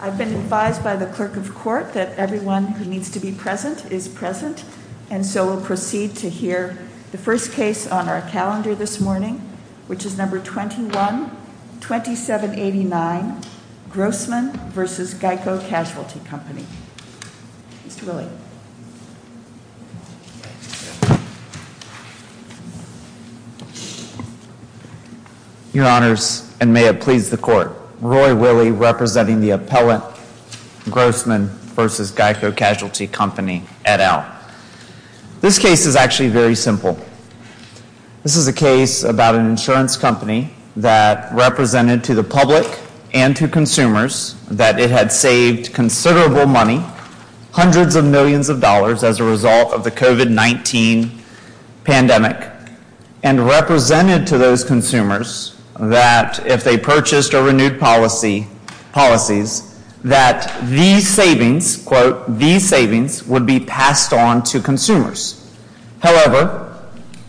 I've been advised by the clerk of court that everyone who needs to be present is present, and so we'll proceed to hear the first case on our calendar this morning, which is number 21-2789 Grossman v. Geico Casualty Company. Your Honors, and may it please the court, Roy Willey representing the appellate Grossman v. Geico Casualty Company et al. This case is actually very simple. This is a case about an insurance company that represented to the public and to consumers that it had saved considerable money, hundreds of millions of dollars as a result of the COVID-19 pandemic, and represented to those consumers that if they purchased or renewed policies, that these savings, quote, these savings would be passed on to consumers. However,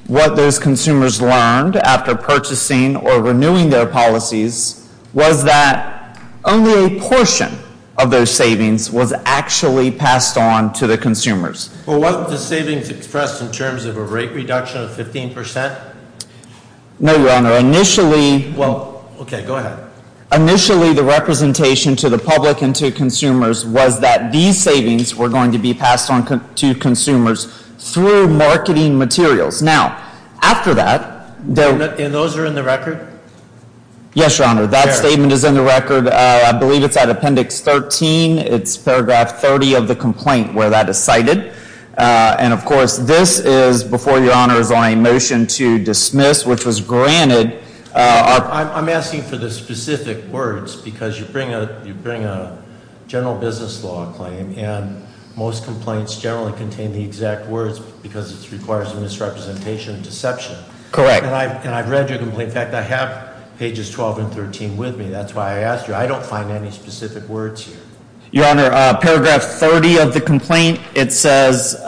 what those consumers learned after purchasing or renewing their policies was that only a portion of those savings was actually passed on to the consumers. Well, wasn't the savings expressed in terms of a rate reduction of 15%? No, Your Honor. Initially... Well, okay, go ahead. Initially, the representation to the public and to consumers was that these savings were going to be passed on to consumers through marketing materials. Now, after that... And those are in the record? Yes, Your Honor. That statement is in the record. I believe it's at Appendix 13. It's Paragraph 30 of the complaint where that is cited. And, of course, this is before Your Honor is on a motion to dismiss, which was granted. I'm asking for the specific words because you bring a general business law claim, and most complaints generally contain the exact words because it requires a misrepresentation and deception. Correct. And I've read your complaint. In fact, I have pages 12 and 13 with me. That's why I asked you. I don't find any specific words here. Your Honor, Paragraph 30 of the complaint, it says,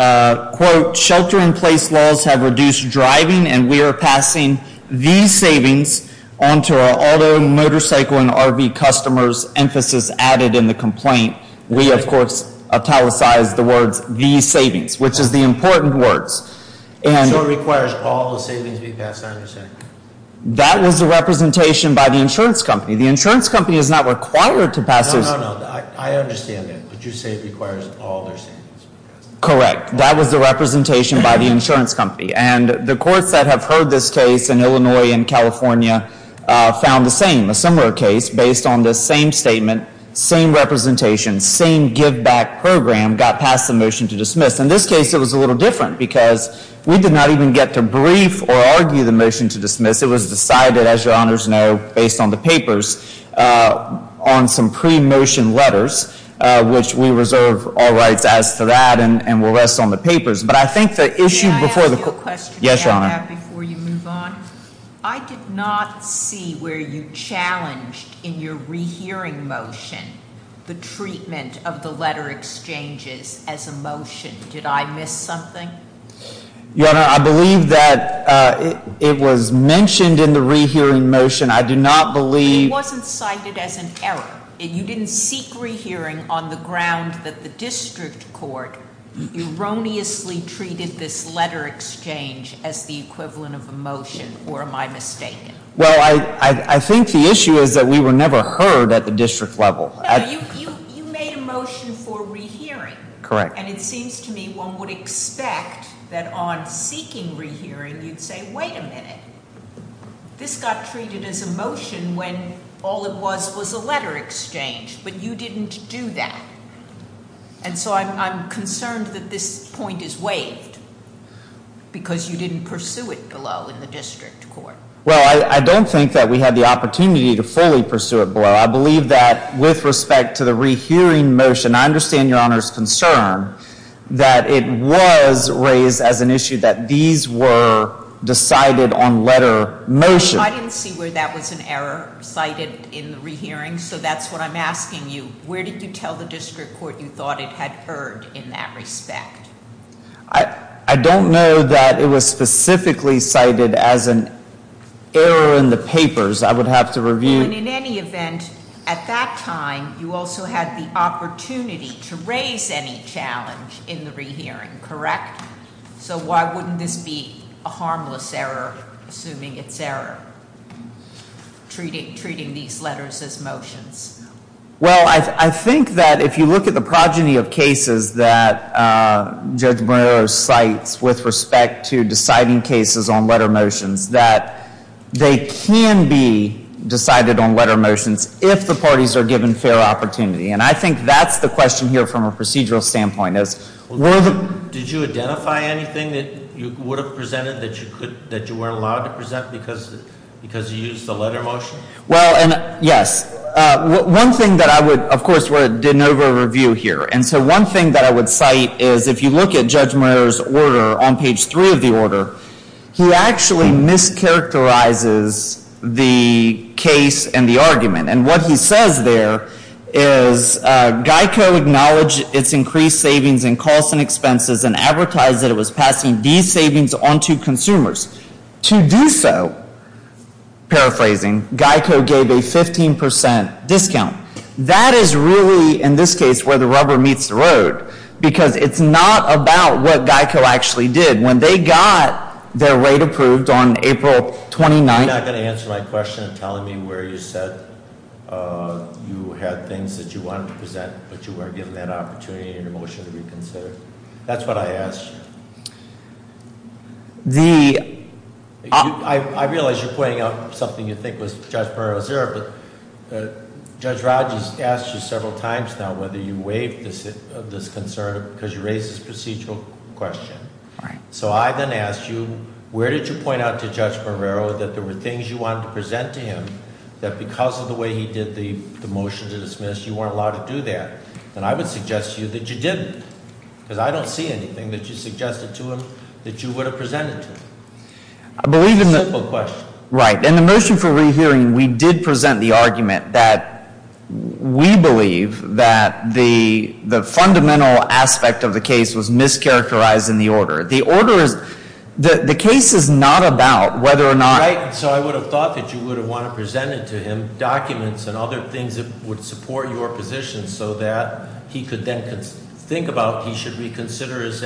quote, shelter-in-place laws have reduced driving, and we are passing these savings on to our auto, motorcycle, and RV customers. Emphasis added in the complaint. We, of course, italicized the words, these savings, which is the important words. So it requires all the savings to be passed, I understand. That was the representation by the insurance company. The insurance company is not required to pass this. No, no, no. I understand that. But you say it requires all their savings. Correct. That was the representation by the insurance company. And the courts that have heard this case in Illinois and California found the same, a similar case, based on this same statement, same representation, same give-back program, got passed the motion to dismiss. In this case, it was a little different, because we did not even get to brief or argue the motion to dismiss. It was decided, as Your Honors know, based on the papers, on some pre-motion letters, which we reserve all rights as to that, and will rest on the papers. But I think the issue before the court— May I ask you a question? Yes, Your Honor. I did not see where you challenged in your rehearing motion the treatment of the letter exchanges as a motion. Did I miss something? Your Honor, I believe that it was mentioned in the rehearing motion. I do not believe— You didn't seek rehearing on the ground that the district court erroneously treated this letter exchange as the equivalent of a motion, or am I mistaken? Well, I think the issue is that we were never heard at the district level. No, you made a motion for rehearing. Correct. And it seems to me one would expect that on seeking rehearing you'd say, wait a minute, this got treated as a motion when all it was was a letter exchange, but you didn't do that. And so I'm concerned that this point is waived, because you didn't pursue it below in the district court. Well, I don't think that we had the opportunity to fully pursue it below. I believe that with respect to the rehearing motion, I understand Your Honor's concern that it was raised as an issue that these were decided on letter motion. I didn't see where that was an error cited in the rehearing, so that's what I'm asking you. Where did you tell the district court you thought it had heard in that respect? I don't know that it was specifically cited as an error in the papers. I would have to review— At that time, you also had the opportunity to raise any challenge in the rehearing, correct? So why wouldn't this be a harmless error, assuming it's error, treating these letters as motions? Well, I think that if you look at the progeny of cases that Judge Moreno cites with respect to deciding cases on letter motions, that they can be decided on letter motions if the parties are given fair opportunity. And I think that's the question here from a procedural standpoint. Did you identify anything that you would have presented that you weren't allowed to present because you used the letter motion? Well, yes. One thing that I would—of course, we're doing an over-review here. And so one thing that I would cite is if you look at Judge Moreno's order on page 3 of the order, he actually mischaracterizes the case and the argument. And what he says there is, Geico acknowledged its increased savings in costs and expenses and advertised that it was passing these savings on to consumers. To do so, paraphrasing, Geico gave a 15% discount. That is really, in this case, where the rubber meets the road because it's not about what Geico actually did. When they got their rate approved on April 29th— You're not going to answer my question of telling me where you said you had things that you wanted to present but you weren't given that opportunity in your motion to reconsider? That's what I asked. I realize you're pointing out something you think was Judge Moreno's error, but Judge Rodgers asked you several times now whether you waived this concern because you raised this procedural question. So I then asked you, where did you point out to Judge Moreno that there were things you wanted to present to him that because of the way he did the motion to dismiss, you weren't allowed to do that? And I would suggest to you that you didn't, because I don't see anything that you suggested to him that you would have presented to him. It's a simple question. Right. In the motion for rehearing, we did present the argument that we believe that the fundamental aspect of the case was mischaracterized in the order. The order is—the case is not about whether or not— and other things that would support your position so that he could then think about he should reconsider his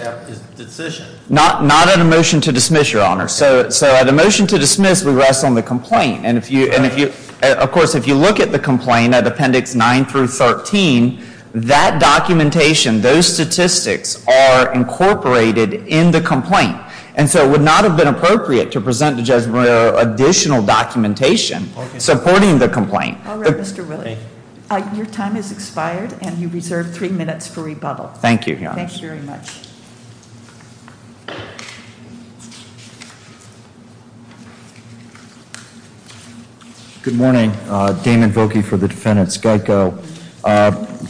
decision. Not in a motion to dismiss, Your Honor. So the motion to dismiss, we rest on the complaint. And if you—of course, if you look at the complaint at Appendix 9 through 13, that documentation, those statistics are incorporated in the complaint. And so it would not have been appropriate to present to Judge Moreno additional documentation supporting the complaint. All right, Mr. Willey. Thank you. Your time has expired, and you reserve three minutes for rebuttal. Thank you, Your Honor. Thank you very much. Good morning. Damon Voge for the defendants. Geico.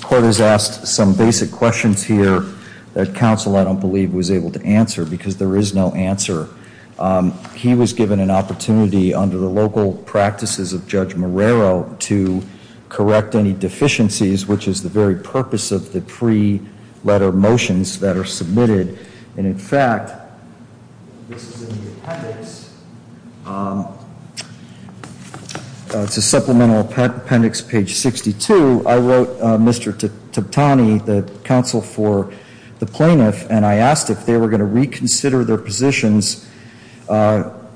Court has asked some basic questions here that counsel, I don't believe, was able to answer because there is no answer. He was given an opportunity under the local practices of Judge Moreno to correct any deficiencies, which is the very purpose of the pre-letter motions that are submitted. And, in fact, this is in the appendix. It's a supplemental appendix, page 62. I wrote Mr. Tottani, the counsel for the plaintiff, and I asked if they were going to reconsider their positions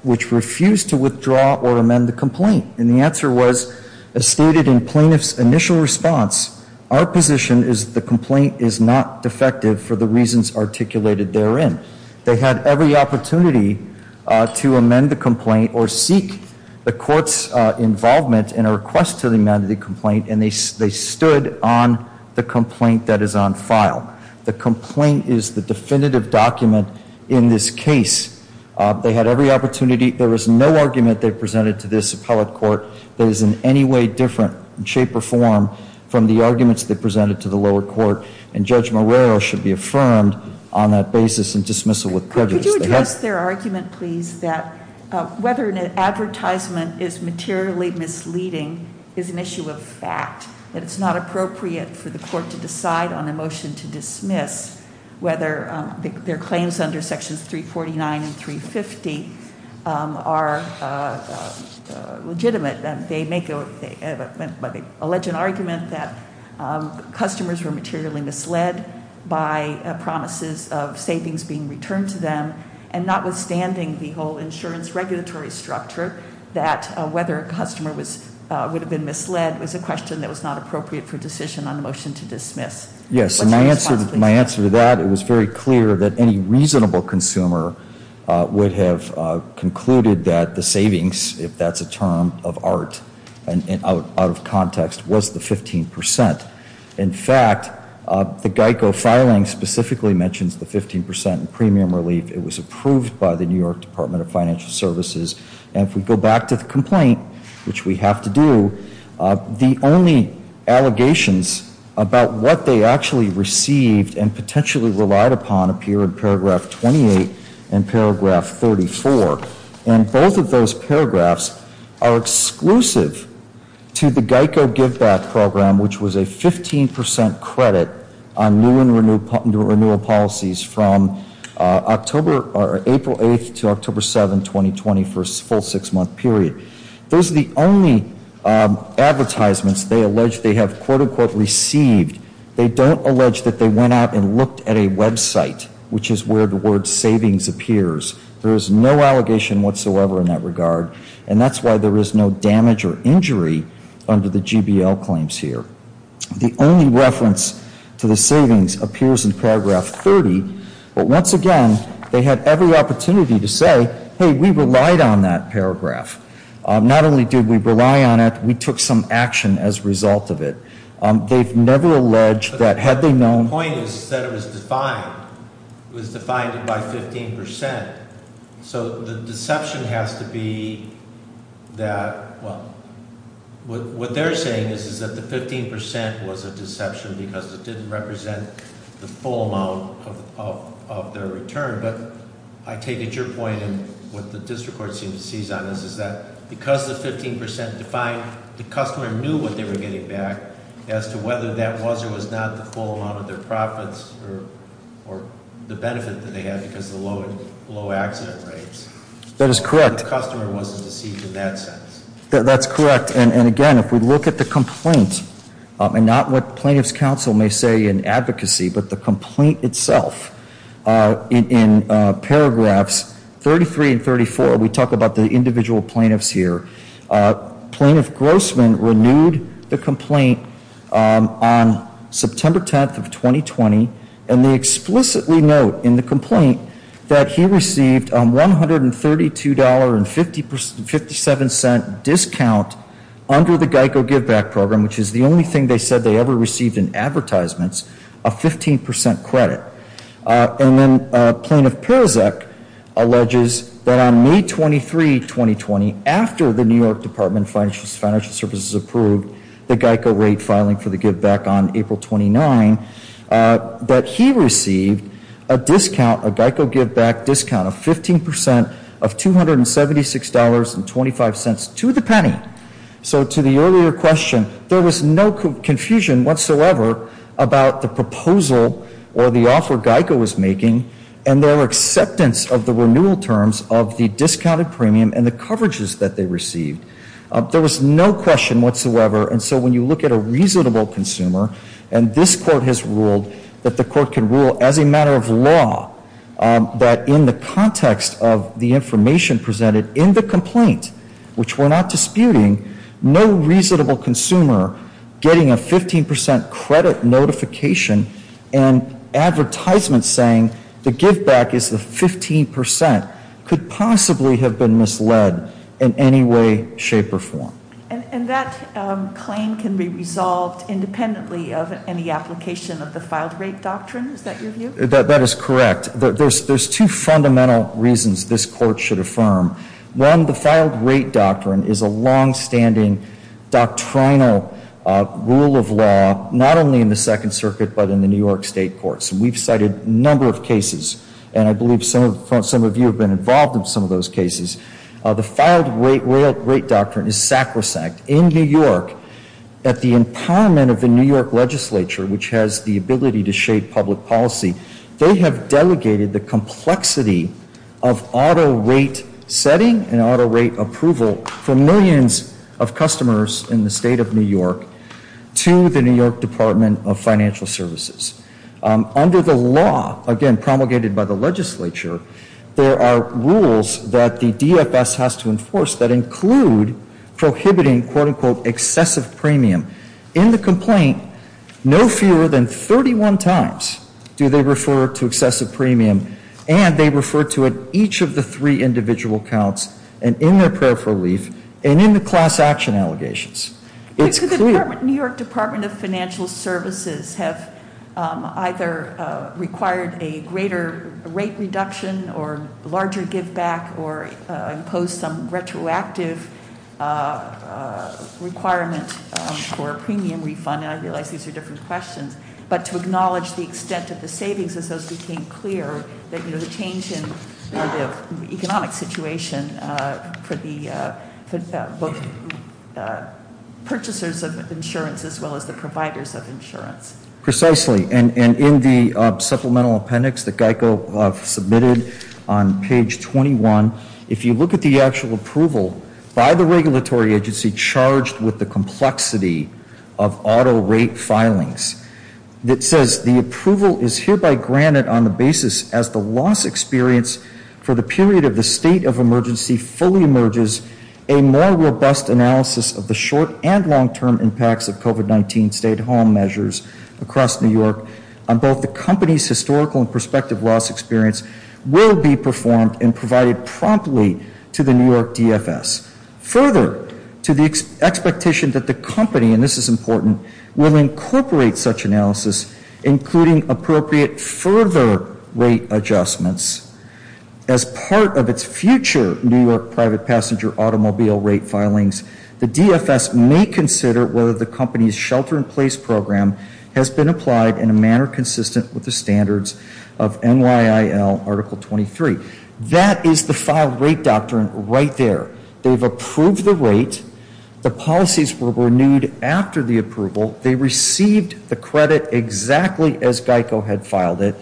which refused to withdraw or amend the complaint. And the answer was, as stated in plaintiff's initial response, our position is the complaint is not defective for the reasons articulated therein. They had every opportunity to amend the complaint or seek the court's involvement in a request to amend the complaint, and they stood on the complaint that is on file. The complaint is the definitive document in this case. They had every opportunity. There is no argument they presented to this appellate court that is in any way different in shape or form from the arguments they presented to the lower court. And Judge Moreno should be affirmed on that basis in dismissal with prejudice. Could you address their argument, please, that whether an advertisement is materially misleading is an issue of fact, that it's not appropriate for the court to decide on a motion to dismiss whether their claims under sections 349 and 350 are legitimate. They make, but they allege an argument that customers were materially misled by promises of savings being returned to them. And notwithstanding the whole insurance regulatory structure, that whether a customer would have been misled was a question that was not appropriate for decision on a motion to dismiss. Yes, and my answer to that, it was very clear that any reasonable consumer would have concluded that the savings, if that's a term of art and out of context, was the 15 percent. In fact, the Geico filing specifically mentions the 15 percent premium relief. It was approved by the New York Department of Financial Services. And if we go back to the complaint, which we have to do, the only allegations about what they actually received and potentially relied upon appear in paragraph 28 and paragraph 34. And both of those paragraphs are exclusive to the Geico give back program, which was a 15 percent credit on new and renewal policies from October or April 8th to October 7th, 2020 for a full six month period. Those are the only advertisements they allege they have quote unquote received. They don't allege that they went out and looked at a Web site, which is where the word savings appears. There is no allegation whatsoever in that regard. And that's why there is no damage or injury under the GBL claims here. The only reference to the savings appears in paragraph 30. But once again, they had every opportunity to say, hey, we relied on that paragraph. Not only did we rely on it, we took some action as a result of it. They've never alleged that had they known- The point is that it was defined. It was defined by 15%. So the deception has to be that, well, what they're saying is that the 15% was a deception because it didn't represent the full amount of their return. But I take it your point and what the district court seems to seize on is that because the 15% defined, the customer knew what they were getting back as to whether that was or was not the full amount of their profits or the benefit that they had because of the low accident rates. That is correct. The customer wasn't deceived in that sense. That's correct. And again, if we look at the complaint, and not what plaintiff's counsel may say in advocacy, but the complaint itself in paragraphs 33 and 34, we talk about the individual plaintiffs here. Plaintiff Grossman renewed the complaint on September 10th of 2020, and they explicitly note in the complaint that he received a $132.57 discount under the Geico GiveBack program, which is the only thing they said they ever received in advertisements, a 15% credit. And then Plaintiff Perizek alleges that on May 23, 2020, after the New York Department of Financial Services approved the Geico rate filing for the GiveBack on April 29, that he received a discount, a Geico GiveBack discount of 15% of $276.25 to the penny. So to the earlier question, there was no confusion whatsoever about the proposal or the offer Geico was making and their acceptance of the renewal terms of the discounted premium and the coverages that they received. There was no question whatsoever. And so when you look at a reasonable consumer, and this court has ruled that the court can rule as a matter of law that in the context of the information presented in the complaint, which we're not disputing, no reasonable consumer getting a 15% credit notification and advertisements saying the GiveBack is the 15% could possibly have been misled in any way, shape, or form. And that claim can be resolved independently of any application of the filed rate doctrine? Is that your view? That is correct. There's two fundamental reasons this court should affirm. One, the filed rate doctrine is a longstanding doctrinal rule of law, not only in the Second Circuit, but in the New York State courts. We've cited a number of cases, and I believe some of you have been involved in some of those cases. The filed rate doctrine is sacrosanct. In New York, at the empowerment of the New York legislature, which has the ability to shape public policy, they have delegated the complexity of auto rate setting and auto rate approval for millions of customers in the state of New York to the New York Department of Financial Services. Under the law, again, promulgated by the legislature, there are rules that the DFS has to enforce that include prohibiting, quote, unquote, excessive premium. In the complaint, no fewer than 31 times do they refer to excessive premium, and they refer to it each of the three individual counts, and in their prayer for relief, and in the class action allegations. It's clear- The New York Department of Financial Services have either required a greater rate reduction, or larger give back, or impose some retroactive requirement for a premium refund. And I realize these are different questions. But to acknowledge the extent of the savings, as those became clear, the change in the economic situation for the purchasers of insurance, as well as the providers of insurance. Precisely. And in the supplemental appendix that GEICO submitted on page 21, if you look at the actual approval by the regulatory agency charged with the complexity of auto rate filings, that says the approval is hereby granted on the basis as the loss experience for the period of the state of emergency fully emerges, a more robust analysis of the short and long-term impacts of COVID-19 stay-at-home measures across New York, on both the company's historical and prospective loss experience, will be performed and provided promptly to the New York DFS. Further, to the expectation that the company, and this is important, will incorporate such analysis, including appropriate further rate adjustments, as part of its future New York private passenger automobile rate filings, the DFS may consider whether the company's shelter-in-place program has been applied in a manner consistent with the standards of NYIL Article 23. That is the file rate doctrine right there. They've approved the rate. The policies were renewed after the approval. They received the credit exactly as GEICO had filed it.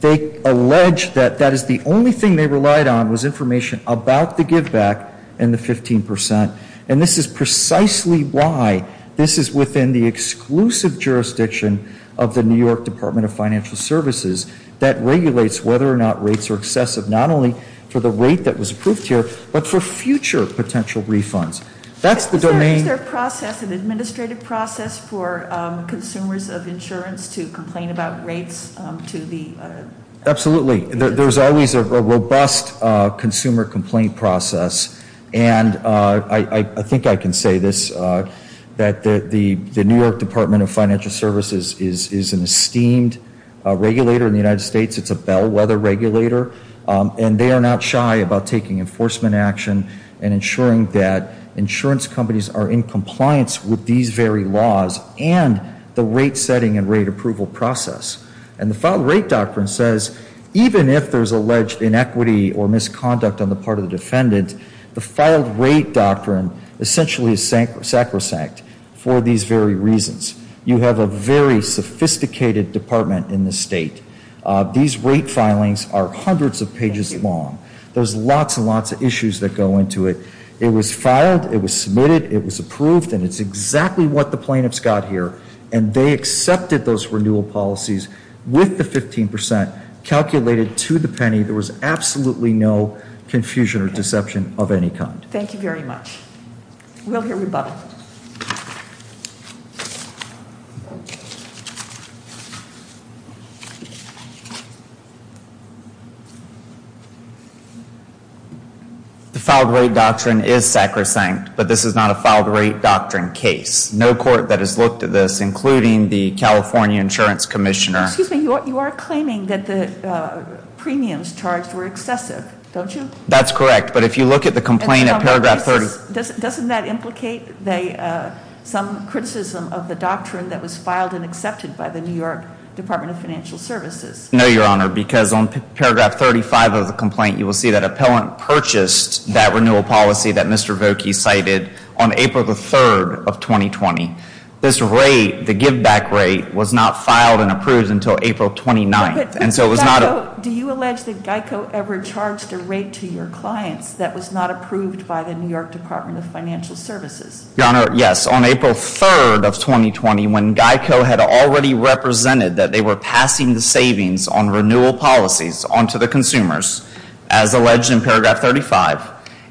They allege that that is the only thing they relied on was information about the give-back and the 15%. And this is precisely why this is within the exclusive jurisdiction of the New York Department of Financial Services that regulates whether or not rates are excessive, not only for the rate that was approved here, but for future potential refunds. Is there a process, an administrative process, for consumers of insurance to complain about rates? Absolutely. There's always a robust consumer complaint process. And I think I can say this, that the New York Department of Financial Services is an esteemed regulator in the United States. It's a bellwether regulator. And they are not shy about taking enforcement action and ensuring that insurance companies are in compliance with these very laws and the rate setting and rate approval process. And the file rate doctrine says even if there's alleged inequity or misconduct on the part of the defendant, the filed rate doctrine essentially is sacrosanct for these very reasons. You have a very sophisticated department in this state. These rate filings are hundreds of pages long. There's lots and lots of issues that go into it. It was filed. It was submitted. It was approved. And it's exactly what the plaintiffs got here. And they accepted those renewal policies with the 15% calculated to the penny. There was absolutely no confusion or deception of any kind. Thank you very much. We'll hear rebuttal. The filed rate doctrine is sacrosanct, but this is not a filed rate doctrine case. No court that has looked at this, including the California Insurance Commissioner. Excuse me. You are claiming that the premiums charged were excessive, don't you? That's correct. But if you look at the complaint at paragraph 30. Doesn't that implicate some criticism of the doctrine that was filed and accepted by the New York Department of Financial Services? No, Your Honor, because on paragraph 35 of the complaint, you will see that appellant purchased that renewal policy that Mr. Vokey cited on April the 3rd of 2020. This rate, the giveback rate, was not filed and approved until April 29th. Do you allege that GEICO ever charged a rate to your clients that was not approved by the New York Department of Financial Services? Your Honor, yes. It was on April 3rd of 2020 when GEICO had already represented that they were passing the savings on renewal policies onto the consumers, as alleged in paragraph 35,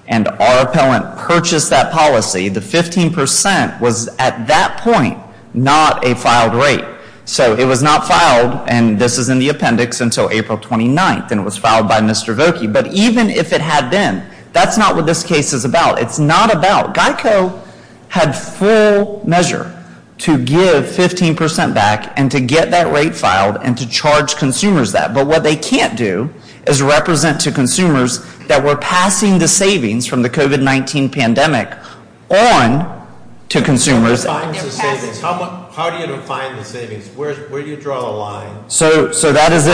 and our appellant purchased that policy. The 15% was at that point not a filed rate. So it was not filed, and this is in the appendix, until April 29th, and it was filed by Mr. Vokey. But even if it had been, that's not what this case is about. It's not about – GEICO had full measure to give 15% back and to get that rate filed and to charge consumers that. But what they can't do is represent to consumers that we're passing the savings from the COVID-19 pandemic on to consumers. How do you define the savings? Where do you draw the line? So that is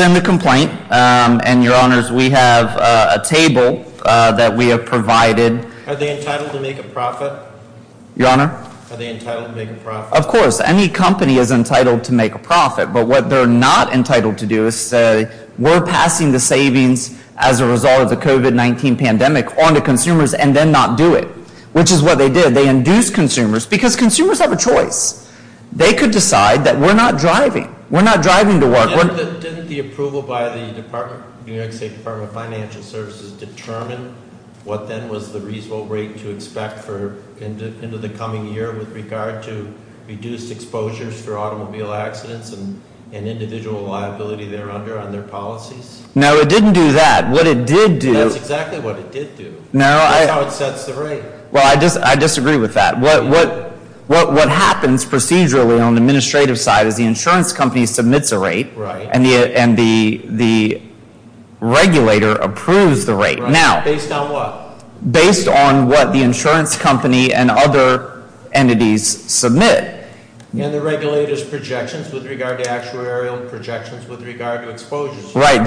in the complaint, and, Your Honors, we have a table. That we have provided. Are they entitled to make a profit? Your Honor? Are they entitled to make a profit? Of course. Any company is entitled to make a profit. But what they're not entitled to do is say we're passing the savings as a result of the COVID-19 pandemic on to consumers and then not do it. Which is what they did. They induced consumers because consumers have a choice. They could decide that we're not driving. We're not driving to work. Didn't the approval by the New York State Department of Financial Services determine what then was the reasonable rate to expect into the coming year with regard to reduced exposures for automobile accidents and individual liability there under on their policies? No, it didn't do that. What it did do – That's exactly what it did do. That's how it sets the rate. Well, I disagree with that. What happens procedurally on the administrative side is the insurance company submits a rate and the regulator approves the rate. Based on what? Based on what the insurance company and other entities submit. And the regulator's projections with regard to actuarial projections with regard to exposures. Right.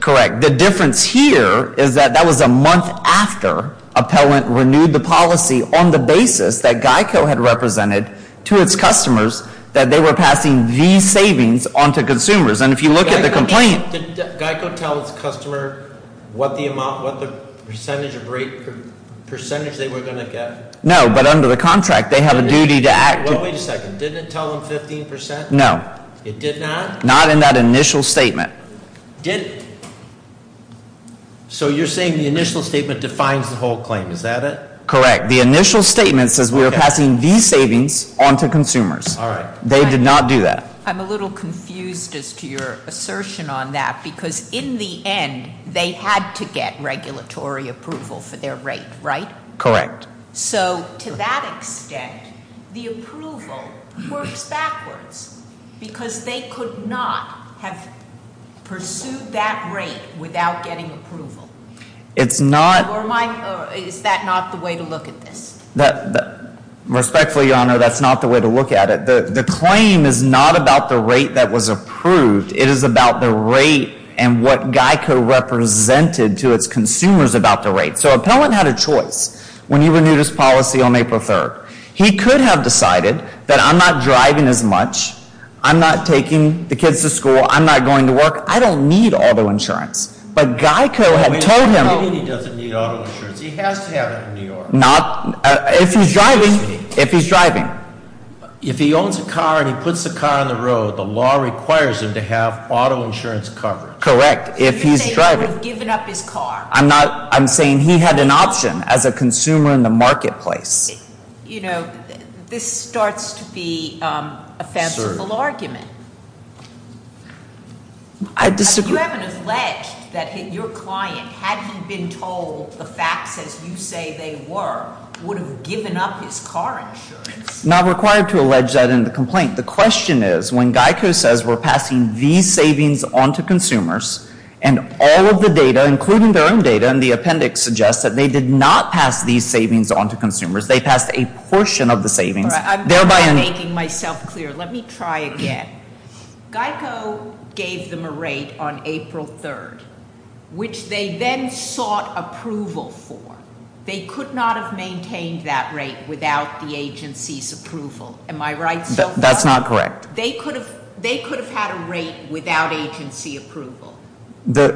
Correct. The difference here is that that was a month after Appellant renewed the policy on the basis that GEICO had represented to its customers that they were passing these savings on to consumers. And if you look at the complaint – Did GEICO tell its customer what the percentage of rate – percentage they were going to get? No, but under the contract they have a duty to act – Well, wait a second. Didn't it tell them 15 percent? No. It did not? Not in that initial statement. Didn't – so you're saying the initial statement defines the whole claim. Is that it? Correct. The initial statement says we are passing these savings on to consumers. All right. They did not do that. I'm a little confused as to your assertion on that because in the end they had to get regulatory approval for their rate, right? Correct. So to that extent the approval works backwards because they could not have pursued that rate without getting approval. It's not – Or is that not the way to look at this? Respectfully, Your Honor, that's not the way to look at it. The claim is not about the rate that was approved. It is about the rate and what GEICO represented to its consumers about the rate. So appellant had a choice when he renewed his policy on April 3rd. He could have decided that I'm not driving as much, I'm not taking the kids to school, I'm not going to work, I don't need auto insurance. But GEICO had told him – He doesn't need auto insurance. He has to have it in New York. Not – if he's driving – if he's driving. If he owns a car and he puts the car on the road, the law requires him to have auto insurance coverage. Correct. If he's driving. You're saying he would have given up his car. I'm not – I'm saying he had an option as a consumer in the marketplace. You know, this starts to be a fanciful argument. I disagree. You haven't alleged that your client, had he been told the facts as you say they were, would have given up his car insurance. Not required to allege that in the complaint. The question is, when GEICO says we're passing these savings on to consumers, and all of the data, including their own data in the appendix, suggests that they did not pass these savings on to consumers. They passed a portion of the savings. I'm not making myself clear. Let me try again. GEICO gave them a rate on April 3rd, which they then sought approval for. They could not have maintained that rate without the agency's approval. Am I right? That's not correct. They could have had a rate without agency approval. The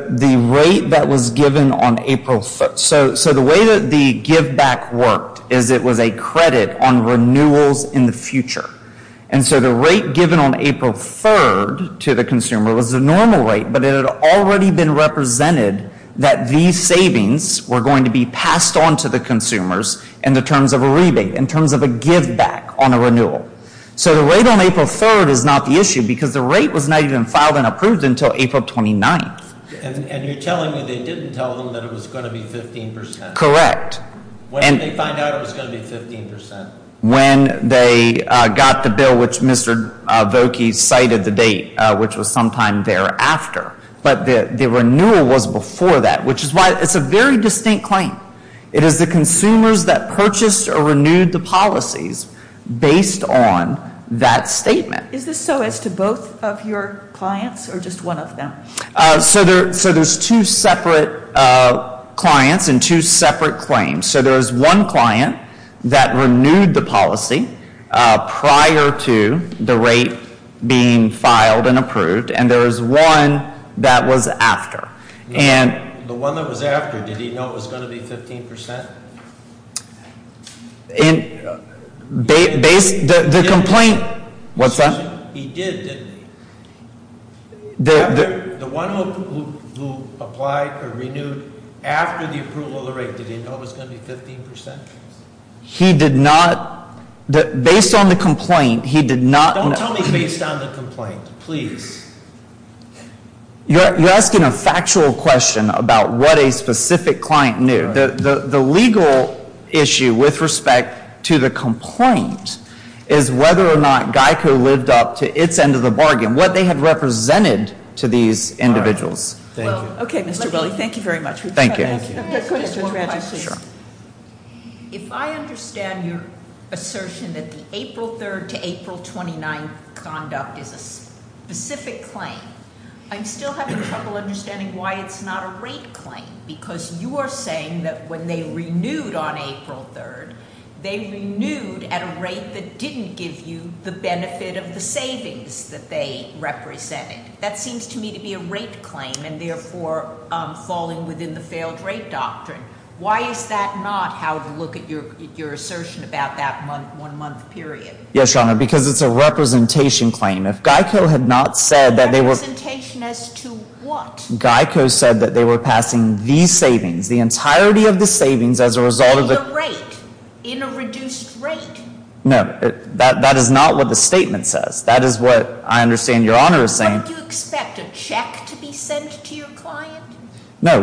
rate that was given on April 3rd. So the way that the give back worked is it was a credit on renewals in the future. And so the rate given on April 3rd to the consumer was a normal rate, but it had already been represented that these savings were going to be passed on to the consumers in the terms of a rebate, in terms of a give back on a renewal. So the rate on April 3rd is not the issue because the rate was not even filed and approved until April 29th. And you're telling me they didn't tell them that it was going to be 15%? Correct. When did they find out it was going to be 15%? When they got the bill, which Mr. Vokey cited the date, which was sometime thereafter. But the renewal was before that, which is why it's a very distinct claim. It is the consumers that purchased or renewed the policies based on that statement. Is this so as to both of your clients or just one of them? So there's two separate clients and two separate claims. So there was one client that renewed the policy prior to the rate being filed and approved, and there was one that was after. The one that was after, did he know it was going to be 15%? What's that? He did, didn't he? The one who applied or renewed after the approval of the rate, did he know it was going to be 15%? He did not. Based on the complaint, he did not. Don't tell me based on the complaint, please. You're asking a factual question about what a specific client knew. The legal issue with respect to the complaint is whether or not GEICO lived up to its end of the bargain, what they had represented to these individuals. Thank you. Okay, Mr. Willey, thank you very much. Thank you. Just one question. Sure. If I understand your assertion that the April 3rd to April 29th conduct is a specific claim, I'm still having trouble understanding why it's not a rate claim. Because you are saying that when they renewed on April 3rd, they renewed at a rate that didn't give you the benefit of the savings that they represented. That seems to me to be a rate claim and therefore falling within the failed rate doctrine. Why is that not how to look at your assertion about that one month period? Yes, Your Honor, because it's a representation claim. If GEICO had not said that they were… Representation as to what? GEICO said that they were passing the savings, the entirety of the savings as a result of… In a rate, in a reduced rate. No, that is not what the statement says. That is what I understand Your Honor is saying. Don't you expect a check to be sent to your client? No.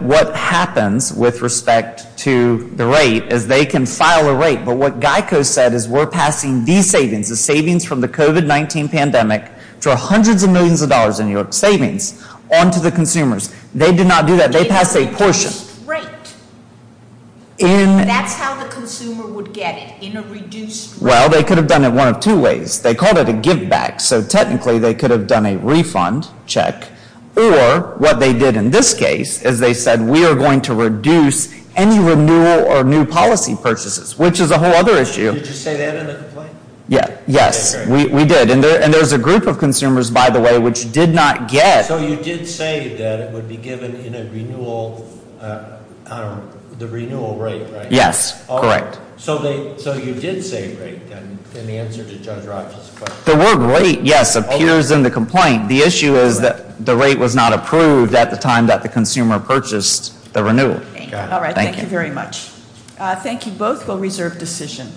What happens with respect to the rate is they can file a rate, but what GEICO said is we're passing these savings, the savings from the COVID-19 pandemic, for hundreds of millions of dollars in New York savings onto the consumers. They did not do that. They passed a portion. In a reduced rate. That's how the consumer would get it, in a reduced rate. Well, they could have done it one of two ways. They called it a giveback, so technically they could have done a refund check, or what they did in this case is they said we are going to reduce any renewal or new policy purchases, which is a whole other issue. Did you say that in the complaint? Yes, we did, and there's a group of consumers, by the way, which did not get… So you did say that it would be given in a renewal, I don't know, the renewal rate, right? Yes, correct. So you did say rate in the answer to Judge Rogers' question. The word rate, yes, appears in the complaint. The issue is that the rate was not approved at the time that the consumer purchased the renewal. All right, thank you very much. Thank you both. We'll reserve decision.